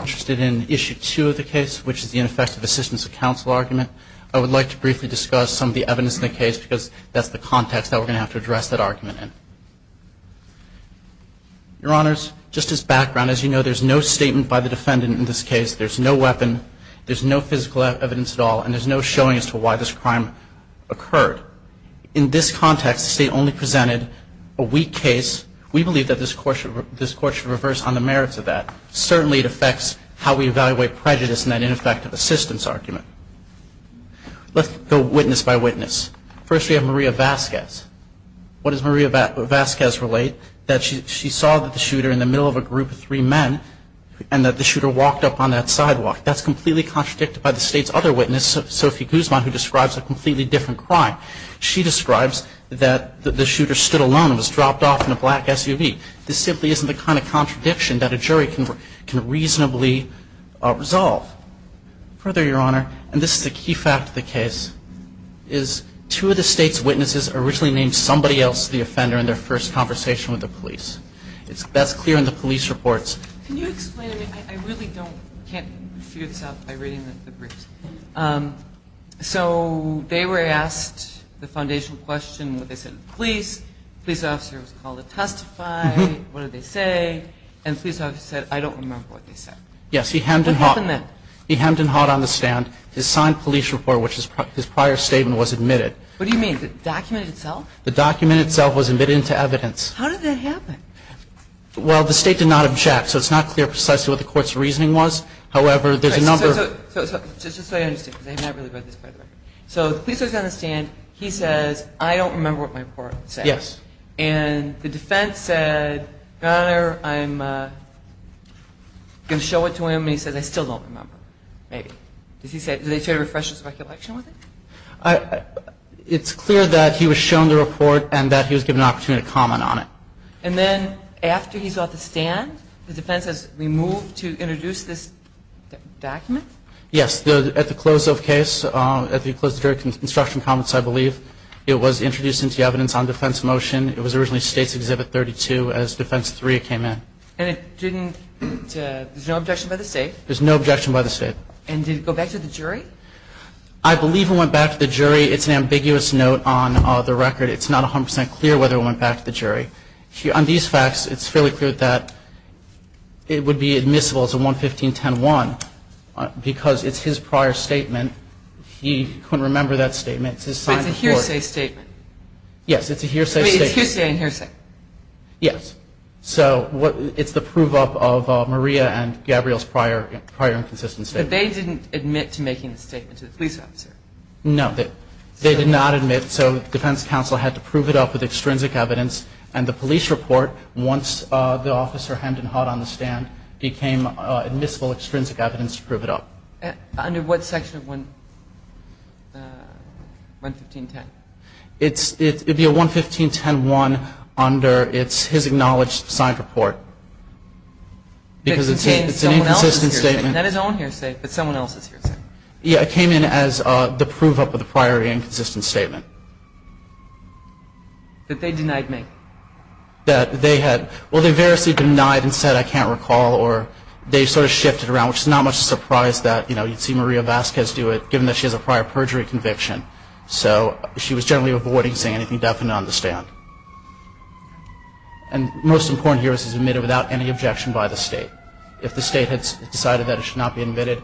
I'm interested in issue two of the case, which is the ineffective assistance of counsel argument. I would like to briefly discuss some of the evidence in the case because that's the context that we're going to have to address that argument in. Your Honors, just as background, as you know, there's no statement by the defendant in this case. There's no weapon. There's no physical evidence at all, and there's no showing as to why this crime occurred. In this context, the State only presented a weak case. We believe that this Court should reverse on the merits of that. Certainly, it affects how we evaluate prejudice in that ineffective assistance argument. Let's go witness by witness. First, we have Maria Vasquez. What does Maria Vasquez relate? That she saw the shooter in the middle of a group of three men and that the shooter walked up on that sidewalk. That's completely contradicted by the State's other witness, Sophie Guzman, who describes a completely different crime. She describes that the shooter stood alone and was dropped off in a black SUV. This simply isn't the kind of contradiction that a jury can reasonably resolve. Further, Your Honor, and this is a key fact of the case, is two of the State's witnesses originally named somebody else the offender in their first conversation with the police. That's clear in the police reports. Can you explain? I really can't figure this out by reading the briefs. So they were asked the foundational question, what they said to the police. The police officer was called to testify. What did they say? And the police officer said, I don't remember what they said. Yes, he hemmed and hawed. He hemmed and hawed on the stand. His signed police report, which is his prior statement, was admitted. What do you mean? The document itself? The document itself was admitted into evidence. How did that happen? Well, the State did not object, so it's not clear precisely what the Court's reasoning was. However, there's a number of... Just so you understand, because I have not really read this part of the record. So the police officer is on the stand. He says, I don't remember what my report said. Yes. And the defense said, Your Honor, I'm going to show it to him. And he says, I still don't remember. Maybe. Did they try to refresh his recollection with it? It's clear that he was shown the report and that he was given an opportunity to comment on it. And then after he's off the stand, the defense has removed to introduce this document? Yes, at the close of case, at the close of the jury construction comments, I believe, it was introduced into evidence on defense motion. It was originally State's Exhibit 32 as Defense 3 came in. And it didn't... There's no objection by the State? There's no objection by the State. And did it go back to the jury? I believe it went back to the jury. It's an ambiguous note on the record. It's not 100% clear whether it went back to the jury. On these facts, it's fairly clear that it would be admissible as a 115-10-1 because it's his prior statement. He couldn't remember that statement. It's his signed report. But it's a hearsay statement. Yes, it's a hearsay statement. It's hearsay and hearsay. Yes. So it's the prove up of Maria and Gabrielle's prior inconsistent statement. But they didn't admit to making the statement to the police officer? No. They did not admit. So the defense counsel had to prove it up with extrinsic evidence. And the police report, once the officer hemmed and hawed on the stand, became admissible extrinsic evidence to prove it up. Under what section of 115-10? It would be a 115-10-1 under his acknowledged signed report. Because it's an inconsistent statement. That is his own hearsay, but someone else's hearsay. Yeah, it came in as the prove up of the prior inconsistent statement. That they denied me. That they had. Well, they variously denied and said, I can't recall. Or they sort of shifted around, which is not much of a surprise that you'd see Maria Vasquez do it, given that she has a prior perjury conviction. So she was generally avoiding saying anything definite on the stand. And most important here is it's admitted without any objection by the state. If the state had decided that it should not be admitted,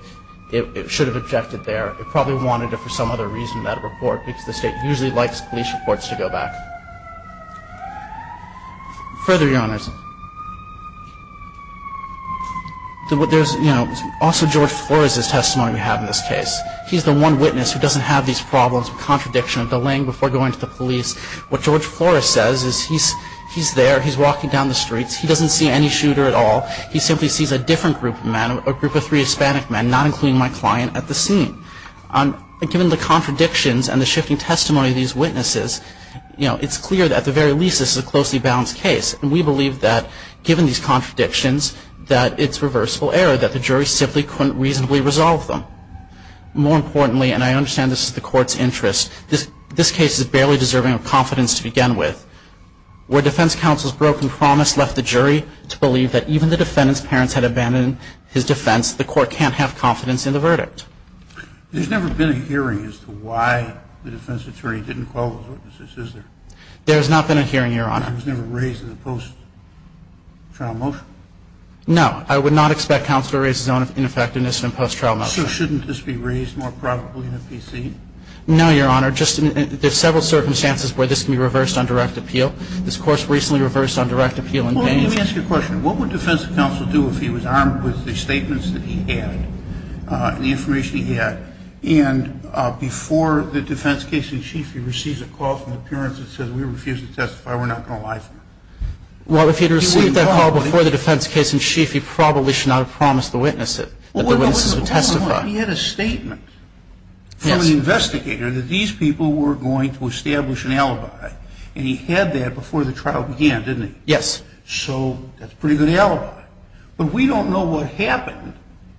it should have objected there. It probably wanted it for some other reason, that report, because the state usually likes police reports to go back. Further, your honors. There's also George Flores' testimony we have in this case. He's the one witness who doesn't have these problems of contradiction, of delaying before going to the police. What George Flores says is he's there, he's walking down the streets, he doesn't see any shooter at all. He simply sees a different group of men, a group of three Hispanic men, not including my client at the scene. And given the contradictions and the shifting testimony of these witnesses, it's clear that at the very least this is a closely balanced case. And we believe that given these contradictions, that it's reversible error, that the jury simply couldn't reasonably resolve them. More importantly, and I understand this is the court's interest, this case is barely deserving of confidence to begin with. Where defense counsel's broken promise left the jury to believe that even the defendant's parents had abandoned his defense, the court can't have confidence in the verdict. There's never been a hearing as to why the defense attorney didn't call those witnesses, is there? There has not been a hearing, your honor. It was never raised in the post-trial motion? No, I would not expect counsel to raise his own ineffectiveness in a post-trial motion. So shouldn't this be raised more probably in a PC? No, your honor, there's several circumstances where this can be reversed on direct appeal. This court's recently reversed on direct appeal in Gaines. Let me ask you a question. What would defense counsel do if he was armed with the statements that he had, the information he had, and before the defense case in chief, he receives a call from the parents that says we refuse to testify, we're not going to lie to them? Well, if he had received that call before the defense case in chief, he probably should not have promised the witness that the witnesses would testify. He had a statement from the investigator that these people were going to establish an alibi. And he had that before the trial began, didn't he? Yes. So that's a pretty good alibi. But we don't know what happened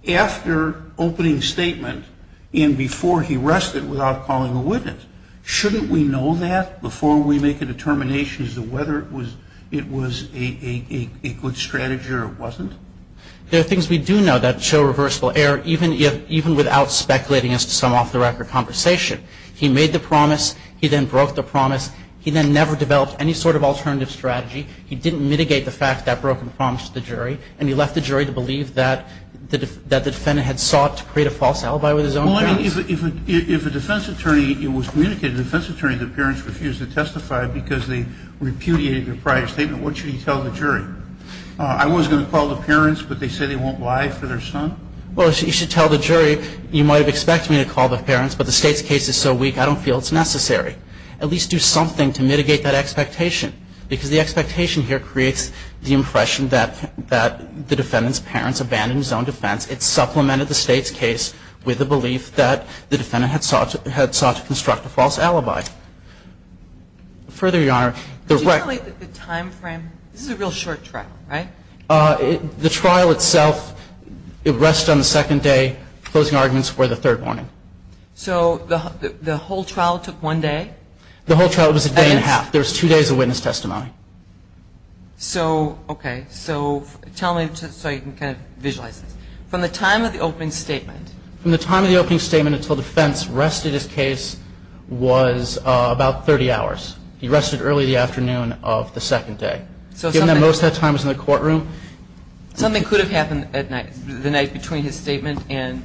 after opening statement and before he rested without calling a witness. Shouldn't we know that before we make a determination as to whether it was a good strategy or it wasn't? There are things we do know that show reversible error, even without speculating as to some off-the-record conversation. He made the promise. He then broke the promise. He then never developed any sort of alternative strategy. He didn't mitigate the fact that broke the promise to the jury. And he left the jury to believe that the defendant had sought to create a false alibi with his own parents. Well, I mean, if a defense attorney was communicating to a defense attorney that parents refused to testify because they repudiated their prior statement, what should he tell the jury? I was going to call the parents, but they say they won't lie for their son? Well, you should tell the jury, you might have expected me to call the parents, but the State's case is so weak, I don't feel it's necessary. At least do something to mitigate that expectation. Because the expectation here creates the impression that the defendant's parents abandoned his own defense. It supplemented the State's case with the belief that the defendant had sought to construct a false alibi. Further, Your Honor, the record. Can you tell me the time frame? This is a real short trial, right? The trial itself, it rests on the second day. Closing arguments were the third morning. So the whole trial took one day? The whole trial was a day and a half. There was two days of witness testimony. So, okay. So tell me, so you can kind of visualize this. From the time of the opening statement. From the time of the opening statement until defense rested his case was about 30 hours. He rested early the afternoon of the second day. Given that most of that time was in the courtroom. Something could have happened at night, the night between his statement and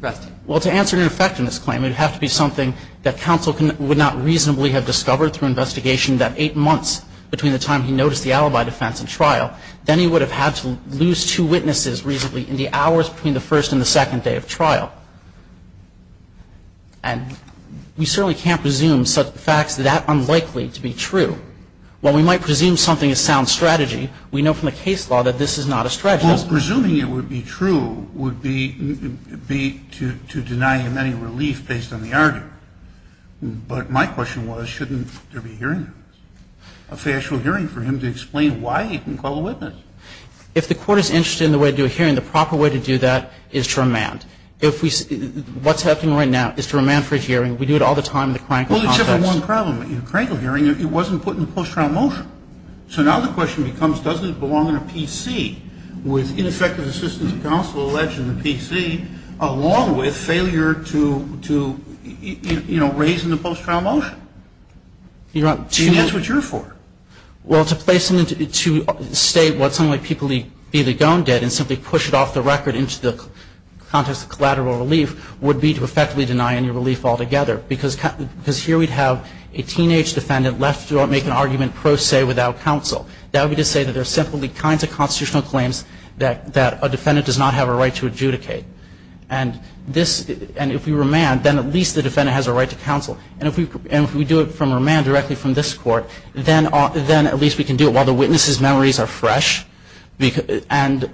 resting. Well, to answer your effectiveness claim, it would have to be something that counsel would not reasonably have discovered through investigation that eight months between the time he noticed the alibi defense and trial, then he would have had to lose two witnesses reasonably in the hours between the first and the second day of trial. And we certainly can't presume such facts that are unlikely to be true. While we might presume something is sound strategy, we know from the case law that this is not a strategy. Well, presuming it would be true would be to deny him any relief based on the argument. But my question was, shouldn't there be a hearing? A factual hearing for him to explain why he didn't call a witness. If the court is interested in the way to do a hearing, the proper way to do that is to remand. If we, what's happening right now is to remand for his hearing. We do it all the time in the crankle context. Well, there's only one problem. In the crankle hearing, it wasn't put in the post-trial motion. So now the question becomes, doesn't it belong in a PC with ineffective assistance of counsel alleged in the PC, along with failure to, you know, raise in the post-trial motion? And that's what you're for. Well, to place him to state what some of my people either gone did and simply push it off the record into the context of collateral relief would be to effectively deny any relief altogether. Because here we'd have a teenage defendant left to make an argument pro se without counsel. That would be to say that there's simply kinds of constitutional claims that a defendant does not have a right to adjudicate. And this, and if we remand, then at least the defendant has a right to counsel. And if we do it from remand directly from this court, then at least we can do it while the witness's memories are fresh. And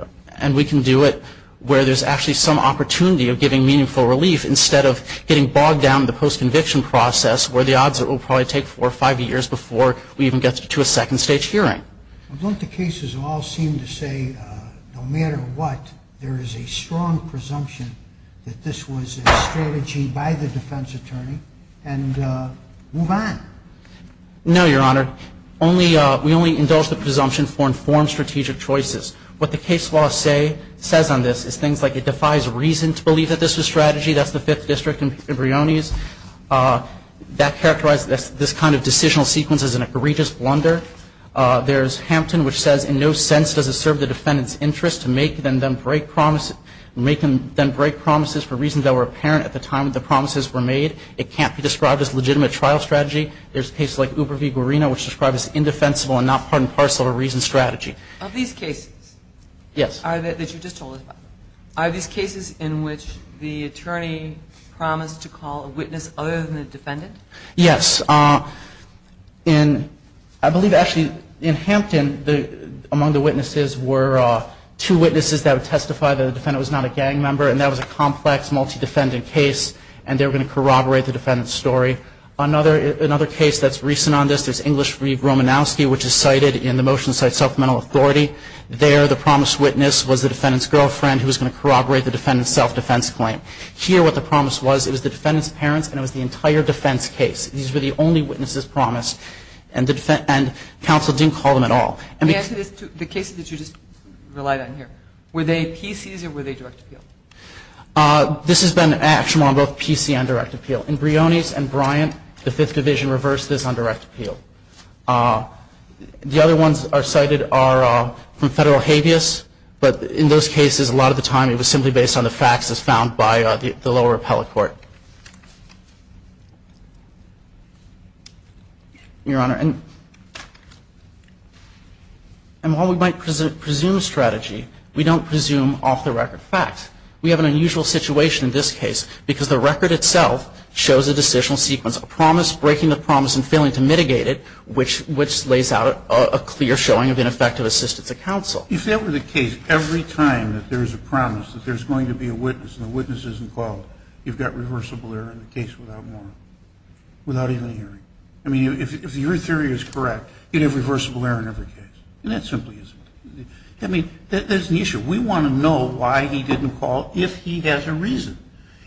we can do it where there's actually some opportunity of giving meaningful relief instead of getting bogged down in the post-conviction process where the odds are it will probably take four or five years before we even get to a second stage hearing. Well, don't the cases all seem to say no matter what, there is a strong presumption that this was a strategy by the defense attorney and move on? No, Your Honor. Only, we only indulge the presumption for informed strategic choices. What the case law say, says on this is things like it defies reason to believe that this was strategy. That's the Fifth District and Brioni's. That characterized this kind of decisional sequence as an egregious blunder. There's Hampton, which says in no sense does it serve the defendant's interest to make them then break promises for reasons that were apparent at the time the promises were made. It can't be described as legitimate trial strategy. There's cases like Uber v. Guarino, which describes it as indefensible and not part and parcel of a reasoned strategy. Of these cases? Yes. Are these cases in which the attorney promised to call a witness other than the defendant? Yes. In, I believe actually in Hampton, among the witnesses were two witnesses that would testify that the defendant was not a gang member and that was a complex multi-defendant case and they were going to corroborate the defendant's story. Another case that's recent on this, there's English v. Romanowski, which is cited in the motion that cites supplemental authority. There, the promised witness was the defendant's girlfriend who was going to corroborate the defendant's self-defense claim. Here, what the promise was, it was the defendant's parents and it was the entire defense case. These were the only witnesses promised and counsel didn't call them at all. The answer is, the cases that you just relied on here, were they PCs or were they direct appeal? This has been an action on both PC and direct appeal. In Brioni's and Bryant, the Fifth Division reversed this on direct appeal. The other ones cited are from Federal habeas, but in those cases, a lot of the time it was simply based on the facts as found by the lower appellate court. Your Honor, and while we might presume strategy, we don't presume off-the-record facts. We have an unusual situation in this case because the record itself shows a decisional sequence, a promise, breaking the promise and failing to mitigate it, which lays out a clear showing of ineffective assistance of counsel. If that were the case, every time that there's a promise that there's going to be a witness and the witness isn't called, you've got reversible error in the case without even hearing. I mean, if your theory is correct, you'd have reversible error in every case. And that simply isn't. I mean, there's an issue. We want to know why he didn't call if he has a reason.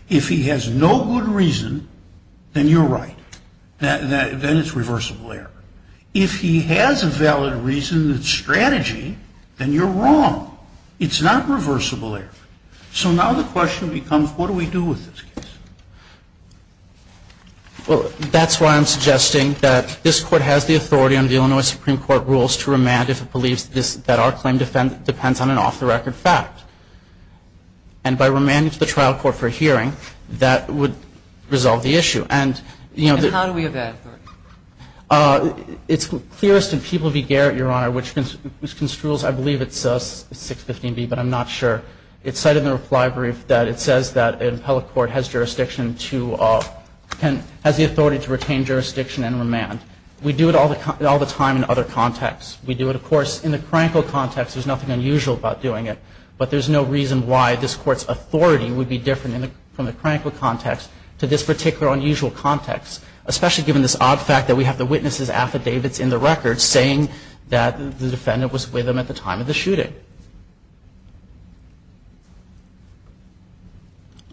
If he has no good reason, then you're right. Then it's reversible error. If he has a valid reason that's strategy, then you're wrong. It's not reversible error. So now the question becomes, what do we do with this case? Well, that's why I'm suggesting that this Court has the authority under the Illinois Supreme Court rules to remand if it believes that our claim depends on an off-the-record fact. And by remanding to the trial court for a hearing, that would resolve the issue. And how do we have that authority? It's clearest in People v. Garrett, Your Honor, which construes, I believe, it's 615B, but I'm not sure. It's cited in the reply brief that it says that an appellate court has the authority to retain jurisdiction and remand. We do it all the time in other contexts. We do it, of course, in the crankle context. There's nothing unusual about doing it. But there's no reason why this Court's authority would be different from the crankle context to this particular unusual context, especially given this odd fact that we have the witness's affidavits in the record saying that the defendant was with them at the time of the shooting.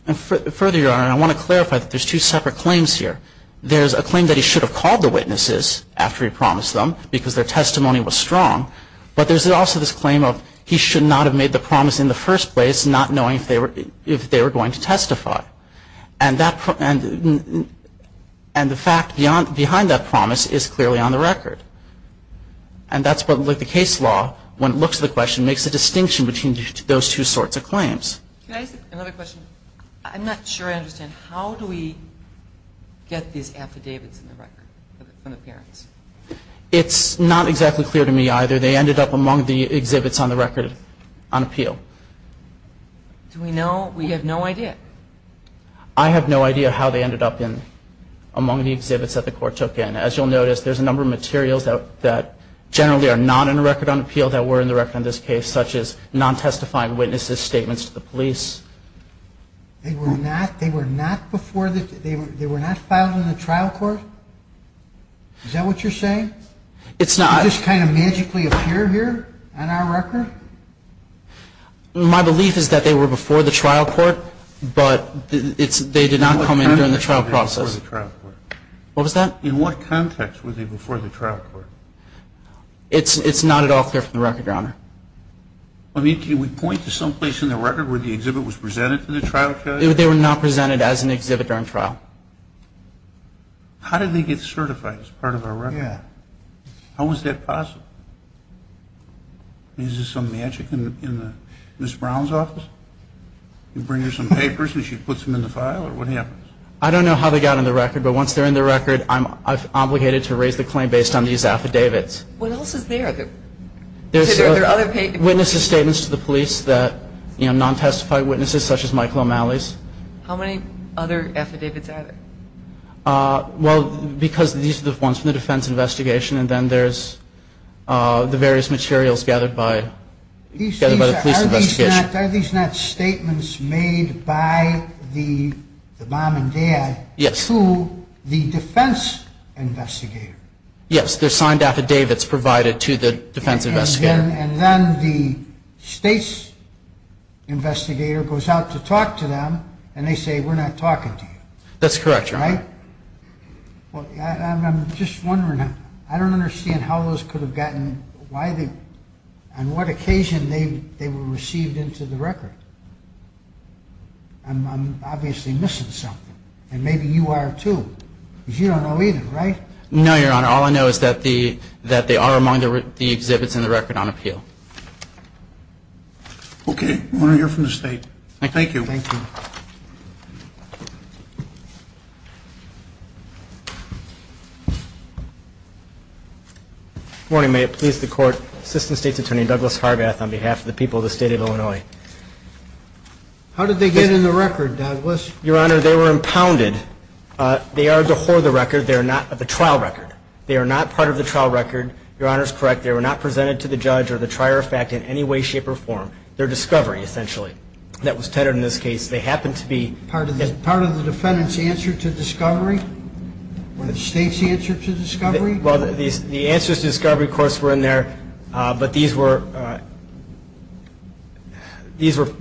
And further, Your Honor, I want to clarify that there's two separate claims here. There's a claim that he should have called the witnesses after he promised them because their testimony was strong. But there's also this claim of he should not have made the promise in the first place, not knowing if they were going to testify. And the fact behind that promise is clearly on the record. And that's what the case law, when it looks at the question, makes a distinction between those two sorts of claims. Can I ask another question? I'm not sure I understand. How do we get these affidavits in the record from the parents? It's not exactly clear to me either. They ended up among the exhibits on the record on appeal. Do we know? We have no idea. I have no idea how they ended up among the exhibits that the court took in. As you'll notice, there's a number of materials that generally are not in the record on appeal that were in the record on this case, such as non-testifying witnesses' statements to the police. They were not filed in the trial court? Is that what you're saying? It's not. They just kind of magically appear here on our record? My belief is that they were before the trial court, but they did not come in during the trial process. What was that? In what context were they before the trial court? It's not at all clear from the record, Your Honor. I mean, can we point to someplace in the record where the exhibit was presented to the trial court? They were not presented as an exhibit during trial. How did they get certified as part of our record? Yeah. How is that possible? Is there some magic in Ms. Brown's office? You bring her some papers and she puts them in the file, or what happens? I don't know how they got on the record, but once they're in the record, I'm obligated to raise the claim based on these affidavits. What else is there? There's witnesses' statements to the police, non-testifying witnesses, such as Michael O'Malley's. How many other affidavits are there? Well, because these are the ones from the defense investigation, and then there's the various materials gathered by the police investigation. Are these not statements made by the mom and dad to the defense investigator? Yes, they're signed affidavits provided to the defense investigator. And then the state's investigator goes out to talk to them, and they say, we're not talking to you. That's correct, Your Honor. Right? Well, I'm just wondering, I don't understand how those could have gotten why they, on what occasion they were received into the record. I'm obviously missing something, and maybe you are too, because you don't know either, right? No, Your Honor. All I know is that they are among the exhibits in the record on appeal. Okay. We want to hear from the state. Thank you. Thank you. Good morning. May it please the Court. Assistant State's Attorney, Douglas Harbath, on behalf of the people of the State of Illinois. How did they get in the record, Douglas? Your Honor, they were impounded. They are before the record. They are not the trial record. They are not part of the trial record. Your Honor is correct. They were not presented to the judge or the trier of fact in any way, shape, or form. They're discovery, essentially. That was tethered in this case. They happen to be part of the defendant's answer to discovery. Were the state's answer to discovery? Well, the answer to discovery, of course, were in there, but these were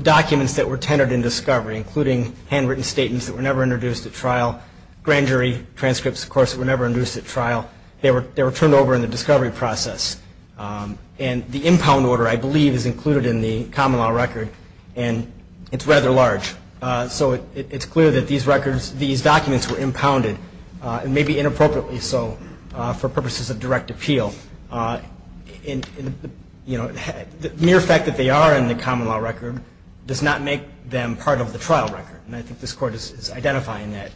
documents that were tethered in discovery, including handwritten statements that were never introduced at trial, grand jury transcripts, of course, that were never introduced at trial. They were turned over in the discovery process. And the impound order, I believe, is included in the common law record, and it's rather large. So it's clear that these records, these documents were impounded, and maybe inappropriately so for purposes of direct appeal. The mere fact that they are in the common law record does not make them part of the trial record, and I think this Court is identifying that.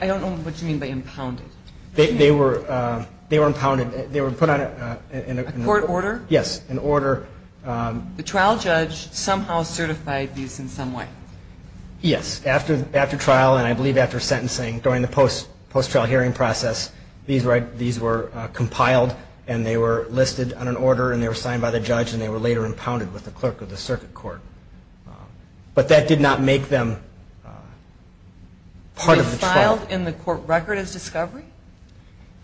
I don't know what you mean by impounded. They were impounded. They were put on a court order? Yes, an order. The trial judge somehow certified these in some way? Yes. After trial, and I believe after sentencing, during the post-trial hearing process, these were compiled, and they were listed on an order, and they were signed by the judge, and they were later impounded with the clerk of the circuit court. But that did not make them part of the trial. Were they filed in the court record as discovery?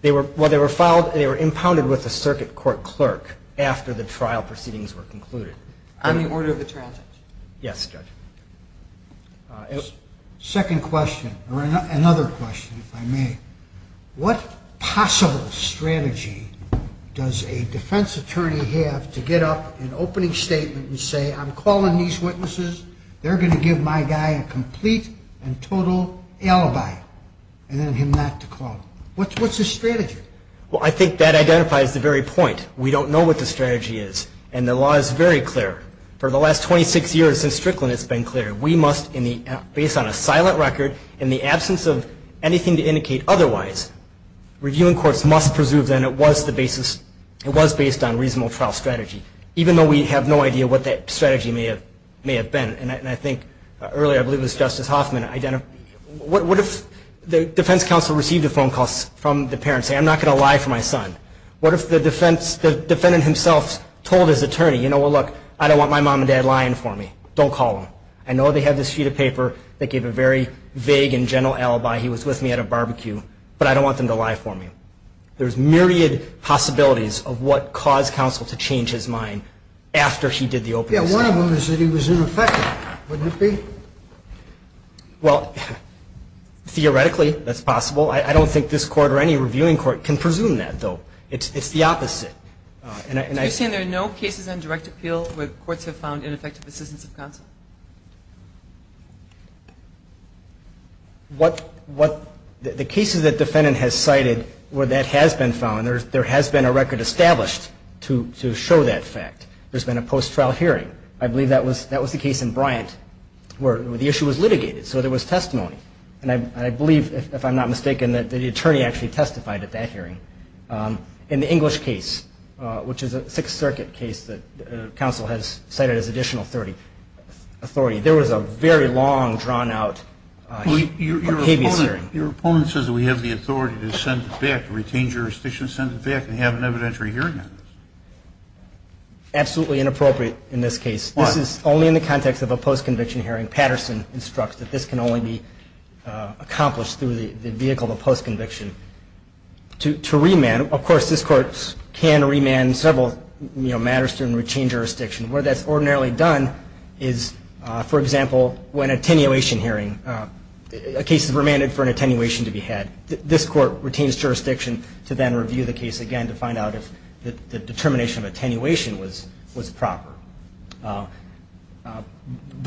Well, they were impounded with the circuit court clerk after the trial proceedings were concluded. On the order of the trial judge? Yes, Judge. Second question, or another question, if I may. What possible strategy does a defense attorney have to get up an opening statement and say, I'm calling these witnesses, they're going to give my guy a complete and total alibi, and then him not to call them? What's his strategy? Well, I think that identifies the very point. We don't know what the strategy is, and the law is very clear. For the last 26 years since Strickland, it's been clear. We must, based on a silent record, in the absence of anything to indicate otherwise, reviewing courts must presume that it was based on a reasonable trial strategy, even though we have no idea what that strategy may have been. And I think earlier, I believe it was Justice Hoffman, what if the defense counsel received a phone call from the parents saying, I'm not going to lie for my son? What if the defendant himself told his attorney, well, look, I don't want my mom and dad lying for me. Don't call them. I know they have this sheet of paper that gave a very vague and general alibi. He was with me at a barbecue, but I don't want them to lie for me. There's myriad possibilities of what caused counsel to change his mind after he did the opening statement. Yeah, one of them is that he was ineffective. Wouldn't it be? Well, theoretically, that's possible. I don't think this court or any reviewing court can presume that, though. It's the opposite. So you're saying there are no cases on direct appeal where courts have found ineffective assistance of counsel? The cases that the defendant has cited where that has been found, there has been a record established to show that fact. There's been a post-trial hearing. I believe that was the case in Bryant where the issue was litigated, so there was testimony. And I believe, if I'm not mistaken, that the attorney actually testified at that hearing. In the English case, which is a Sixth Circuit case that counsel has cited as additional authority, there was a very long, drawn-out hearing. Your opponent says that we have the authority to send it back, to retain jurisdiction, send it back, and have an evidentiary hearing on it. Absolutely inappropriate in this case. Why? This is only in the context of a post-conviction hearing. Patterson instructs that this can only be accomplished through the vehicle of a post-conviction. To remand, of course, this Court can remand several matters to retain jurisdiction. Where that's ordinarily done is, for example, when an attenuation hearing, a case is remanded for an attenuation to be had. This Court retains jurisdiction to then review the case again to find out if the determination of attenuation was proper. But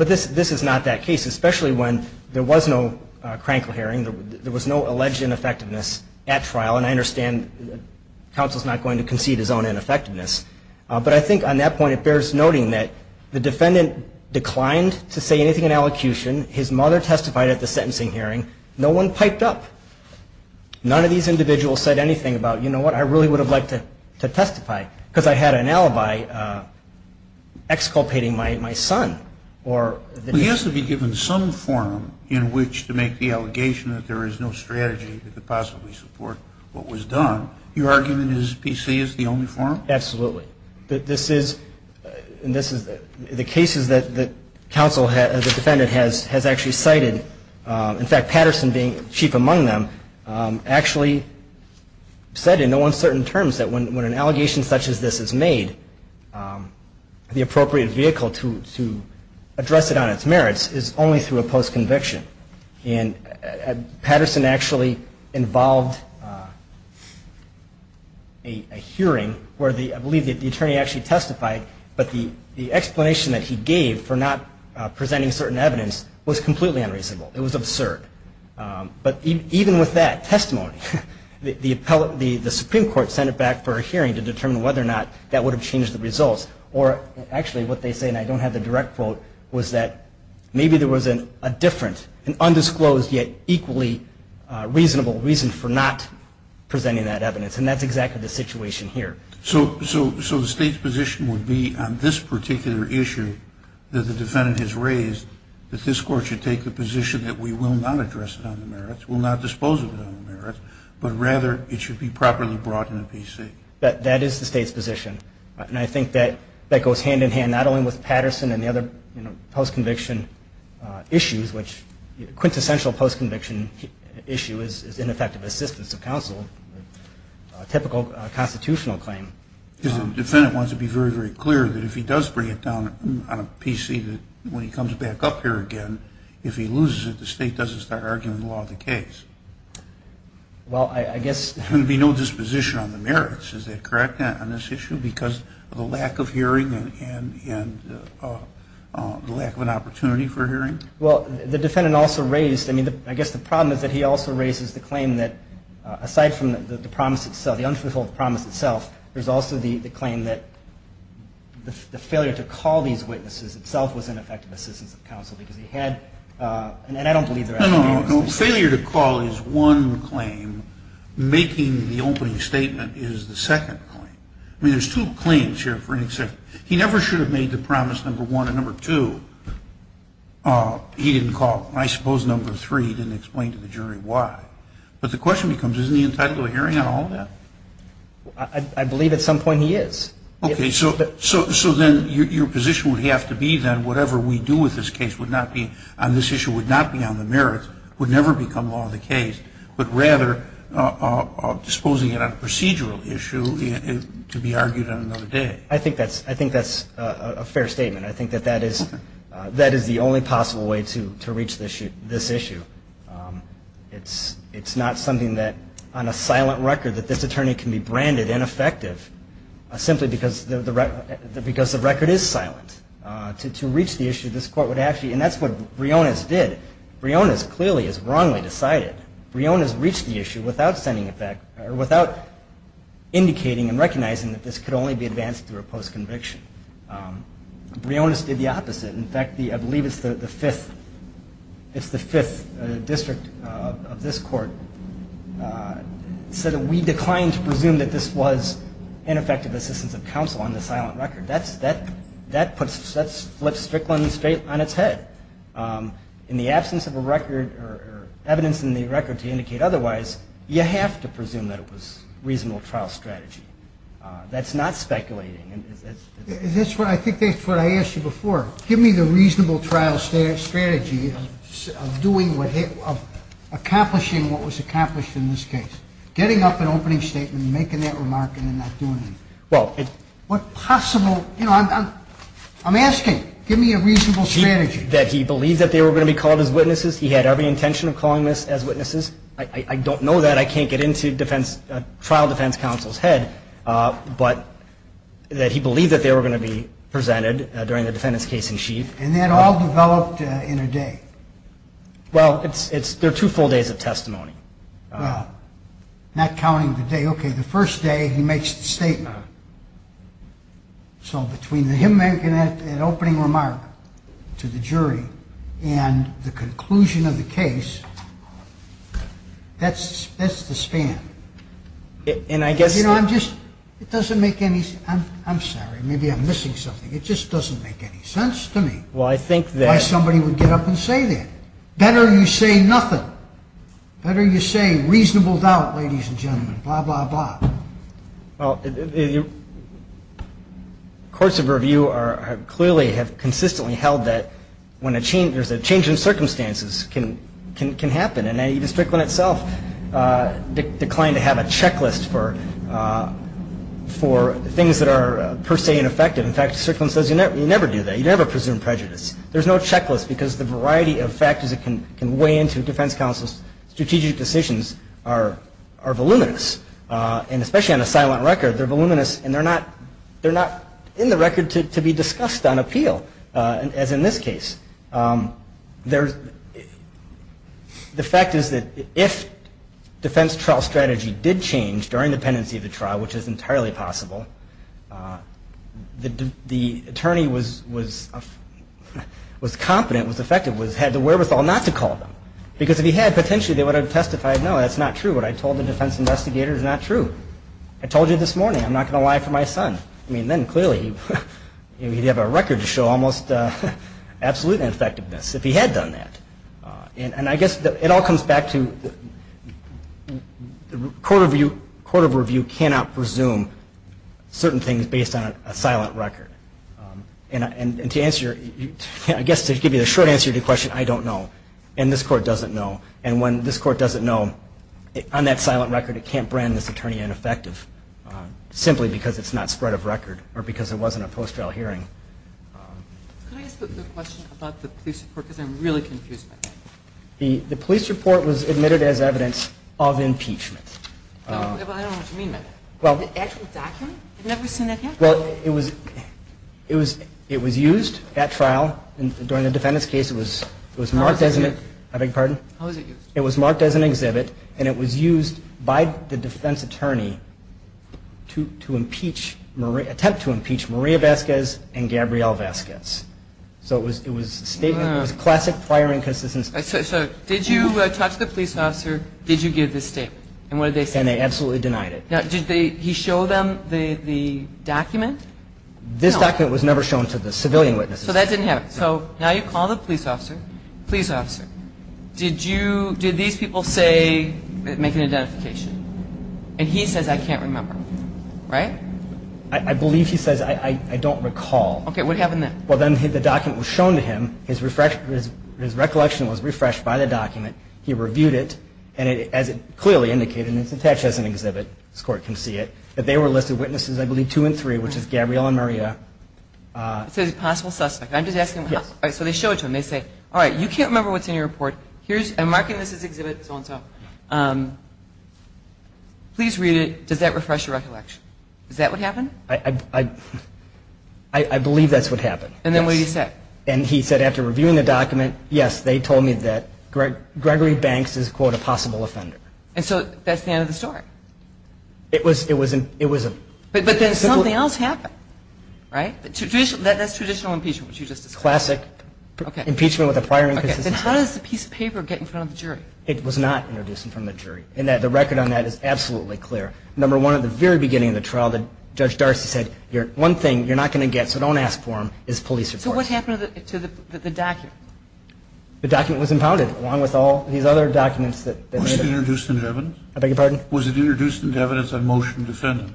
this is not that case, especially when there was no crankle hearing, there was no alleged ineffectiveness at trial, and I understand counsel's not going to concede his own ineffectiveness, but I think on that point it bears noting that the defendant declined to say anything in allocution, his mother testified at the sentencing hearing, no one piped up. None of these individuals said anything about, you know what, I really would have liked to testify, because I had an alibi exculpating my son. He has to be given some forum in which to make the allegation that there is no strategy to possibly support what was done. Your argument is PC is the only forum? Absolutely. This is, the cases that counsel has, the defendant has actually cited, in fact Patterson being chief among them, actually said in no uncertain terms that when an allegation such as this is made, the appropriate vehicle to address it on its merits is only through a post-conviction. And Patterson actually involved a hearing where I believe the attorney actually testified, but the explanation that he gave for not presenting certain evidence was completely unreasonable. It was absurd. But even with that testimony, the Supreme Court sent it back for a hearing to determine whether or not that would have changed the results, or actually what they say, and I don't have the direct quote, was that maybe there was a different, an undisclosed yet equally reasonable reason for not presenting that evidence. And that's exactly the situation here. So the State's position would be on this particular issue that the defendant has raised, that this Court should take the position that we will not address it on the merits, will not dispose of it on the merits, but rather it should be properly brought into PC. That is the State's position. And I think that goes hand in hand not only with Patterson and the other post-conviction issues, which quintessential post-conviction issue is ineffective assistance of counsel, a typical constitutional claim. Because the defendant wants to be very, very clear that if he does bring it down on a PC, that when he comes back up here again, if he loses it, the State doesn't start arguing the law of the case. Well, I guess... There's going to be no disposition on the merits. Is that correct on this issue? Because of the lack of hearing and the lack of an opportunity for hearing? Well, the defendant also raised... I mean, I guess the problem is that he also raises the claim that aside from the promise itself, the unfulfilled promise itself, there's also the claim that the failure to call these witnesses itself was ineffective assistance of counsel because he had... And I don't believe there has to be... No, no, no. Failure to call is one claim. Making the opening statement is the second claim. I mean, there's two claims here for an exception. He never should have made the promise, number one. And number two, he didn't call. I suppose number three, he didn't explain to the jury why. But the question becomes, isn't he entitled to a hearing on all of that? I believe at some point he is. Okay. So then your position would have to be that whatever we do with this case would not be on this issue, would not be on the merits, would never become law of the case, but rather disposing it on a procedural issue to be argued on another day. I think that's a fair statement. I think that that is the only possible way to reach this issue. It's not something that, on a silent record, that this attorney can be branded ineffective simply because the record is silent. To reach the issue, this court would actually... And that's what Briones did. Briones clearly has wrongly decided. Briones reached the issue without sending... Or without indicating and recognizing that this could only be advanced through a post-conviction. Briones did the opposite. In fact, I believe it's the fifth... It's the fifth district of this court said that we declined to presume that this was ineffective assistance of counsel on the silent record. That flips Strickland straight on its head. In the absence of a record, or evidence in the record to indicate otherwise, you have to presume that it was a reasonable trial strategy. That's not speculating. I think that's what I asked you before. Give me the reasonable trial strategy of doing what... of accomplishing what was accomplished in this case. Getting up an opening statement and making that remark and then not doing it. Well... What possible... You know, I'm asking. Give me a reasonable strategy. That he believed that they were going to be called as witnesses? He had every intention of calling this as witnesses? I don't know that. I can't get into defense... trial defense counsel's head. But... that he believed that they were going to be presented during the defendant's case in chief? And that all developed in a day? Well, it's... They're two full days of testimony. Well... Not counting the day. Okay, the first day, he makes the statement. So, between him making an opening remark to the jury and the conclusion of the case, that's the span. And I guess... You know, I'm just... It doesn't make any... I'm sorry. Maybe I'm missing something. It just doesn't make any sense to me. Well, I think that... Why somebody would get up and say that. Better you say nothing. Better you say, reasonable doubt, ladies and gentlemen. Blah, blah, blah. Well... Courts of review are... clearly have consistently held that when a change... there's a change in circumstances can happen. And even Strickland itself declined to have a checklist for things that are per se ineffective. In fact, Strickland says you never do that. You never presume prejudice. There's no checklist because the variety of factors that can weigh into defense counsel's strategic decisions are voluminous. And especially on a silent record, they're voluminous and they're not... They're not in the record to be discussed on appeal as in this case. The fact is that if defense trial strategy did change during the pendency of the trial which is entirely possible, the attorney was... was competent, was effective, had the wherewithal not to call them. Because if he had, potentially they would have testified no, that's not true. What I told the defense investigator is not true. I told you this morning I'm not going to lie for my son. I mean, then clearly he'd have a record to show almost absolutely effectiveness if he had done that. And I guess it all comes back to the court of review cannot presume certain things based on a silent record. And to answer your... I guess to give you the short answer to your question I don't know and this court doesn't know and when this court doesn't know on that silent record it can't brand this attorney ineffective simply because it's not spread of record or because it wasn't a post-trial hearing. Could I ask the question about the police report because I'm really confused by that. The police report was admitted as evidence of impeachment. No, but I don't know what you mean by that. The actual document? I've never seen that yet. Well, it was it was used at trial during the defendant's case it was marked as an I beg your pardon? How was it used? It was marked as an exhibit and it was used by the defense attorney to impeach attempt to impeach Maria Vasquez and Gabrielle Vasquez so it was it was a statement it was classic prior inconsistency So did you talk to the police officer did you give this statement? And what did they say? And they absolutely denied it. Now did they he show them the document? No. This document was never shown to the civilian witnesses. So that didn't happen. So now you call the police officer police officer did you did these people say make an identification? And he says I can't remember. Right? I believe he says I don't recall. Okay what happened then? Well then the document was shown to him his recollection was refreshed by the document he reviewed it and as it clearly indicated it's attached as an exhibit this court can see it that they were listed witnesses I believe two and three which is Gabrielle and Maria It says possible suspect I'm just asking so they show it to him they say alright you can't remember what's in your report here's I'm marking this as exhibit so and so please read it does that refresh your recollection? Is that what happened? I believe that's what happened And then what do you say? And he said after reviewing the document yes they told me that Gregory Banks is quote a possible offender And so that's the end of the story? It was it was But then something else happened Right? That's traditional impeachment which you just described Classic Impeachment with a prior inconsistency How does the piece of paper get in front of the jury? It was not introduced in front of the jury and the record on that is absolutely clear Number one at the very beginning of the trial Judge Darcy said one thing you're not going to get so don't ask for them is police support So what happened to the document? The document was impounded along with all these other documents Was it introduced into evidence? I beg your pardon? Was it introduced into evidence on motion to defend?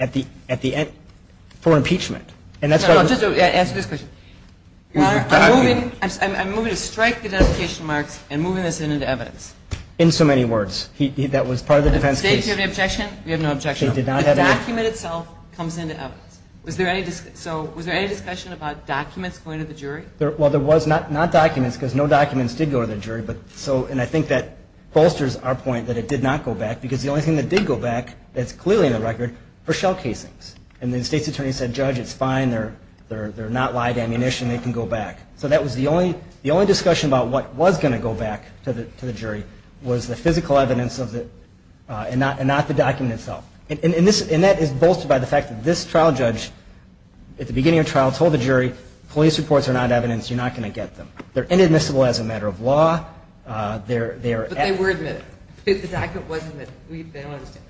At the end for impeachment No just answer this question I'm moving to strike the dedication marks and moving this into evidence In so many words That was part of the defense case Do you have an objection? We have no objection The document itself comes into evidence So was there any discussion about documents going to the jury? Well there was not documents because no documents did go to the jury and I think that bolsters our point that it did not go back because the only thing that did go back that's clearly in the record and the state's attorney said judge it's fine they're not live ammunition they can go back So that was the only discussion about what was going to go back to the jury was the physical evidence of the and not the document itself and that is bolstered by the fact that this trial judge at the beginning of the trial told the jury police reports are not evidence you're not going to get them They're inadmissible as a matter of law But they were admitted The document wasn't they don't understand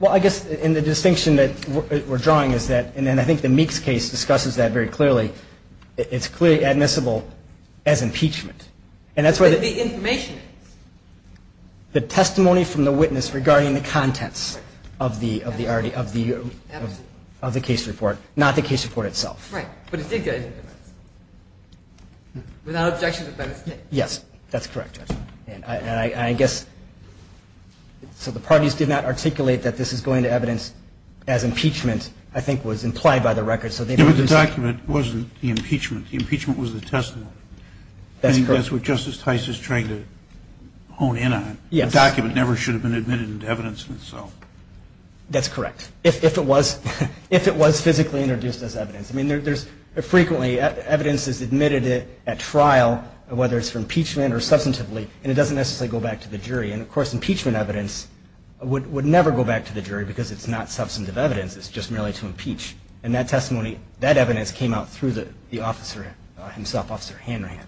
Well I guess in the distinction that we're drawing is that and I think the Meeks case discusses that very clearly it's clearly admissible as impeachment But the information is the testimony from the witness regarding the contents of the of the of the of the case report not the case report itself Right But it did get Without objection to the benefit Yes That's correct And I guess So the parties did not articulate that this is going to evidence as impeachment I think was implied by the record The document wasn't the impeachment The impeachment was the testimony That's correct So I guess what Justice Tice is trying to hone in on Yes The document never should have been admitted into evidence itself That's correct If it was If it was physically introduced as evidence I mean there's frequently at trial whether it's for impeachment or substantively And it doesn't necessarily go back to the jury And of course impeachment evidence would never go back to the jury because it's not substantive evidence It's just merely to impeach And that testimony That evidence came out through the officer himself Officer Hanrahan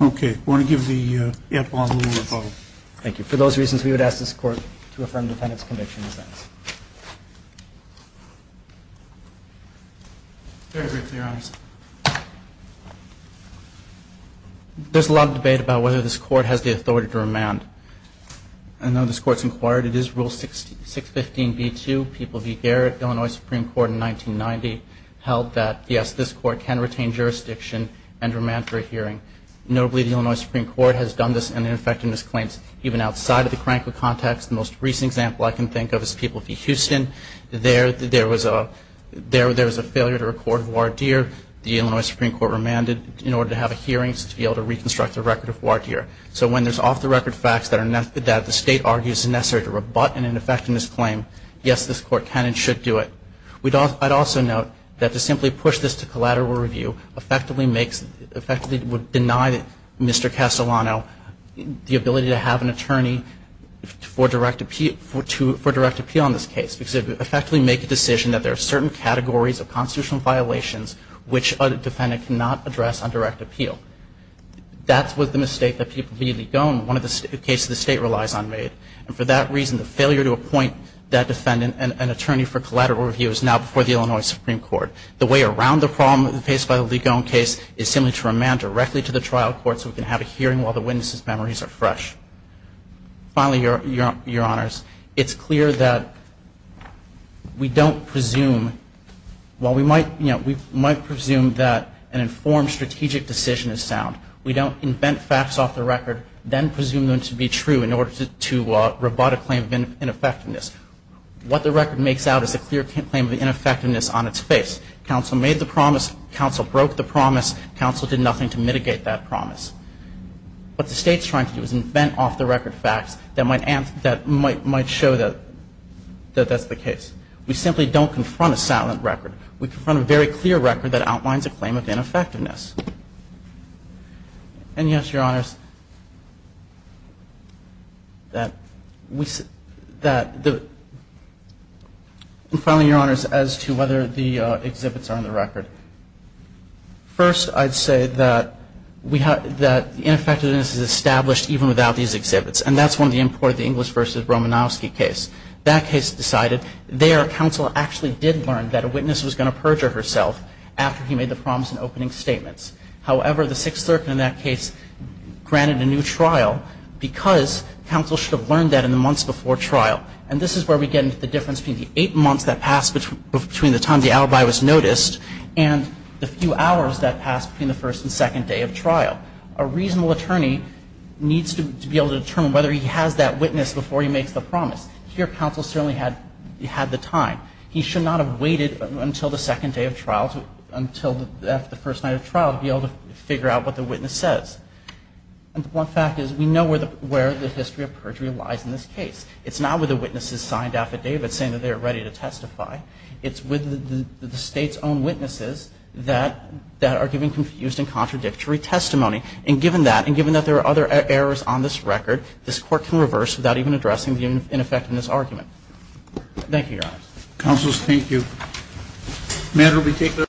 Okay I want to give the antitrust lawyer a follow-up Thank you we would ask this court to affirm the defendant's conviction as evidence Very briefly Your Honor There's a lot of debate about whether this court has the authority to remand I know this court's inquired It is Rule 615b2 People v. Garrett Illinois Supreme Court in 1990 held that yes this court can retain jurisdiction and remand for a hearing Notably the Illinois Supreme Court has done this in their effectiveness claims even outside of the Franklin context The most recent example I can think of is People v. Houston There There was a There was a failure to record voir dire The Illinois Supreme Court remanded in order to have the record facts that the state argues is necessary to rebut in an effectiveness claim Yes this court can and should do it I'd also note that to simply push this to collateral review effectively would deny Mr. Castellano the ability to have an attorney for direct appeal on this case Effectively make a decision that there are certain categories of constitutional violations which a defendant cannot address on direct appeal That was the mistake that People v. Ligon one of the cases the state relies on made And for that reason the failure to appoint that defendant an attorney for collateral review is now before the Illinois Supreme Court The way around the problem faced by the Ligon case is simply to remand directly to the trial court so we can have a hearing while the witness's memories are fresh Finally Your Honors It's clear that we don't presume while we might you know we might presume that an informed strategic decision is sound We don't invent facts off the record then presume them to be true in order to rebut a claim of ineffectiveness What the record makes out is a clear claim of ineffectiveness on its face Counsel made the promise Counsel broke the promise Counsel did nothing to mitigate that promise What the state is trying to do is invent off the record facts that might show that that's the case We simply don't confront a silent record We confront a very clear record that outlines a claim of ineffectiveness And yes Your Honors that we that the Finally Your Honors as to whether the exhibits are on the record First I'd say that we have that ineffectiveness is established even without these exhibits and that's what the state has decided There Counsel actually did learn that a witness was going to perjure herself after he made the promise in opening statements However the Sixth Circuit in that case granted a new trial because Counsel should have learned that in the months before trial And this is where we get into the difference between the eight months that passed between the time the alibi was noticed and the few hours that passed between the first and second day of trial A reasonable attorney needs to be able to determine whether he has that witness before he makes the promise Here Counsel certainly had the time He should not have waited until the second day of trial until the first night of trial to be able to figure out what the witness says One fact is we know where the history of perjury lies in this case It's not with the witnesses signed affidavits saying that they are ready to testify It's with the state's own witnesses that are giving confused and contradictory testimony And given that and given that there are other errors on this record this court can reverse without even addressing the ineffectiveness of this argument Thank you, Your Honor Counsel, thank you May it be taken...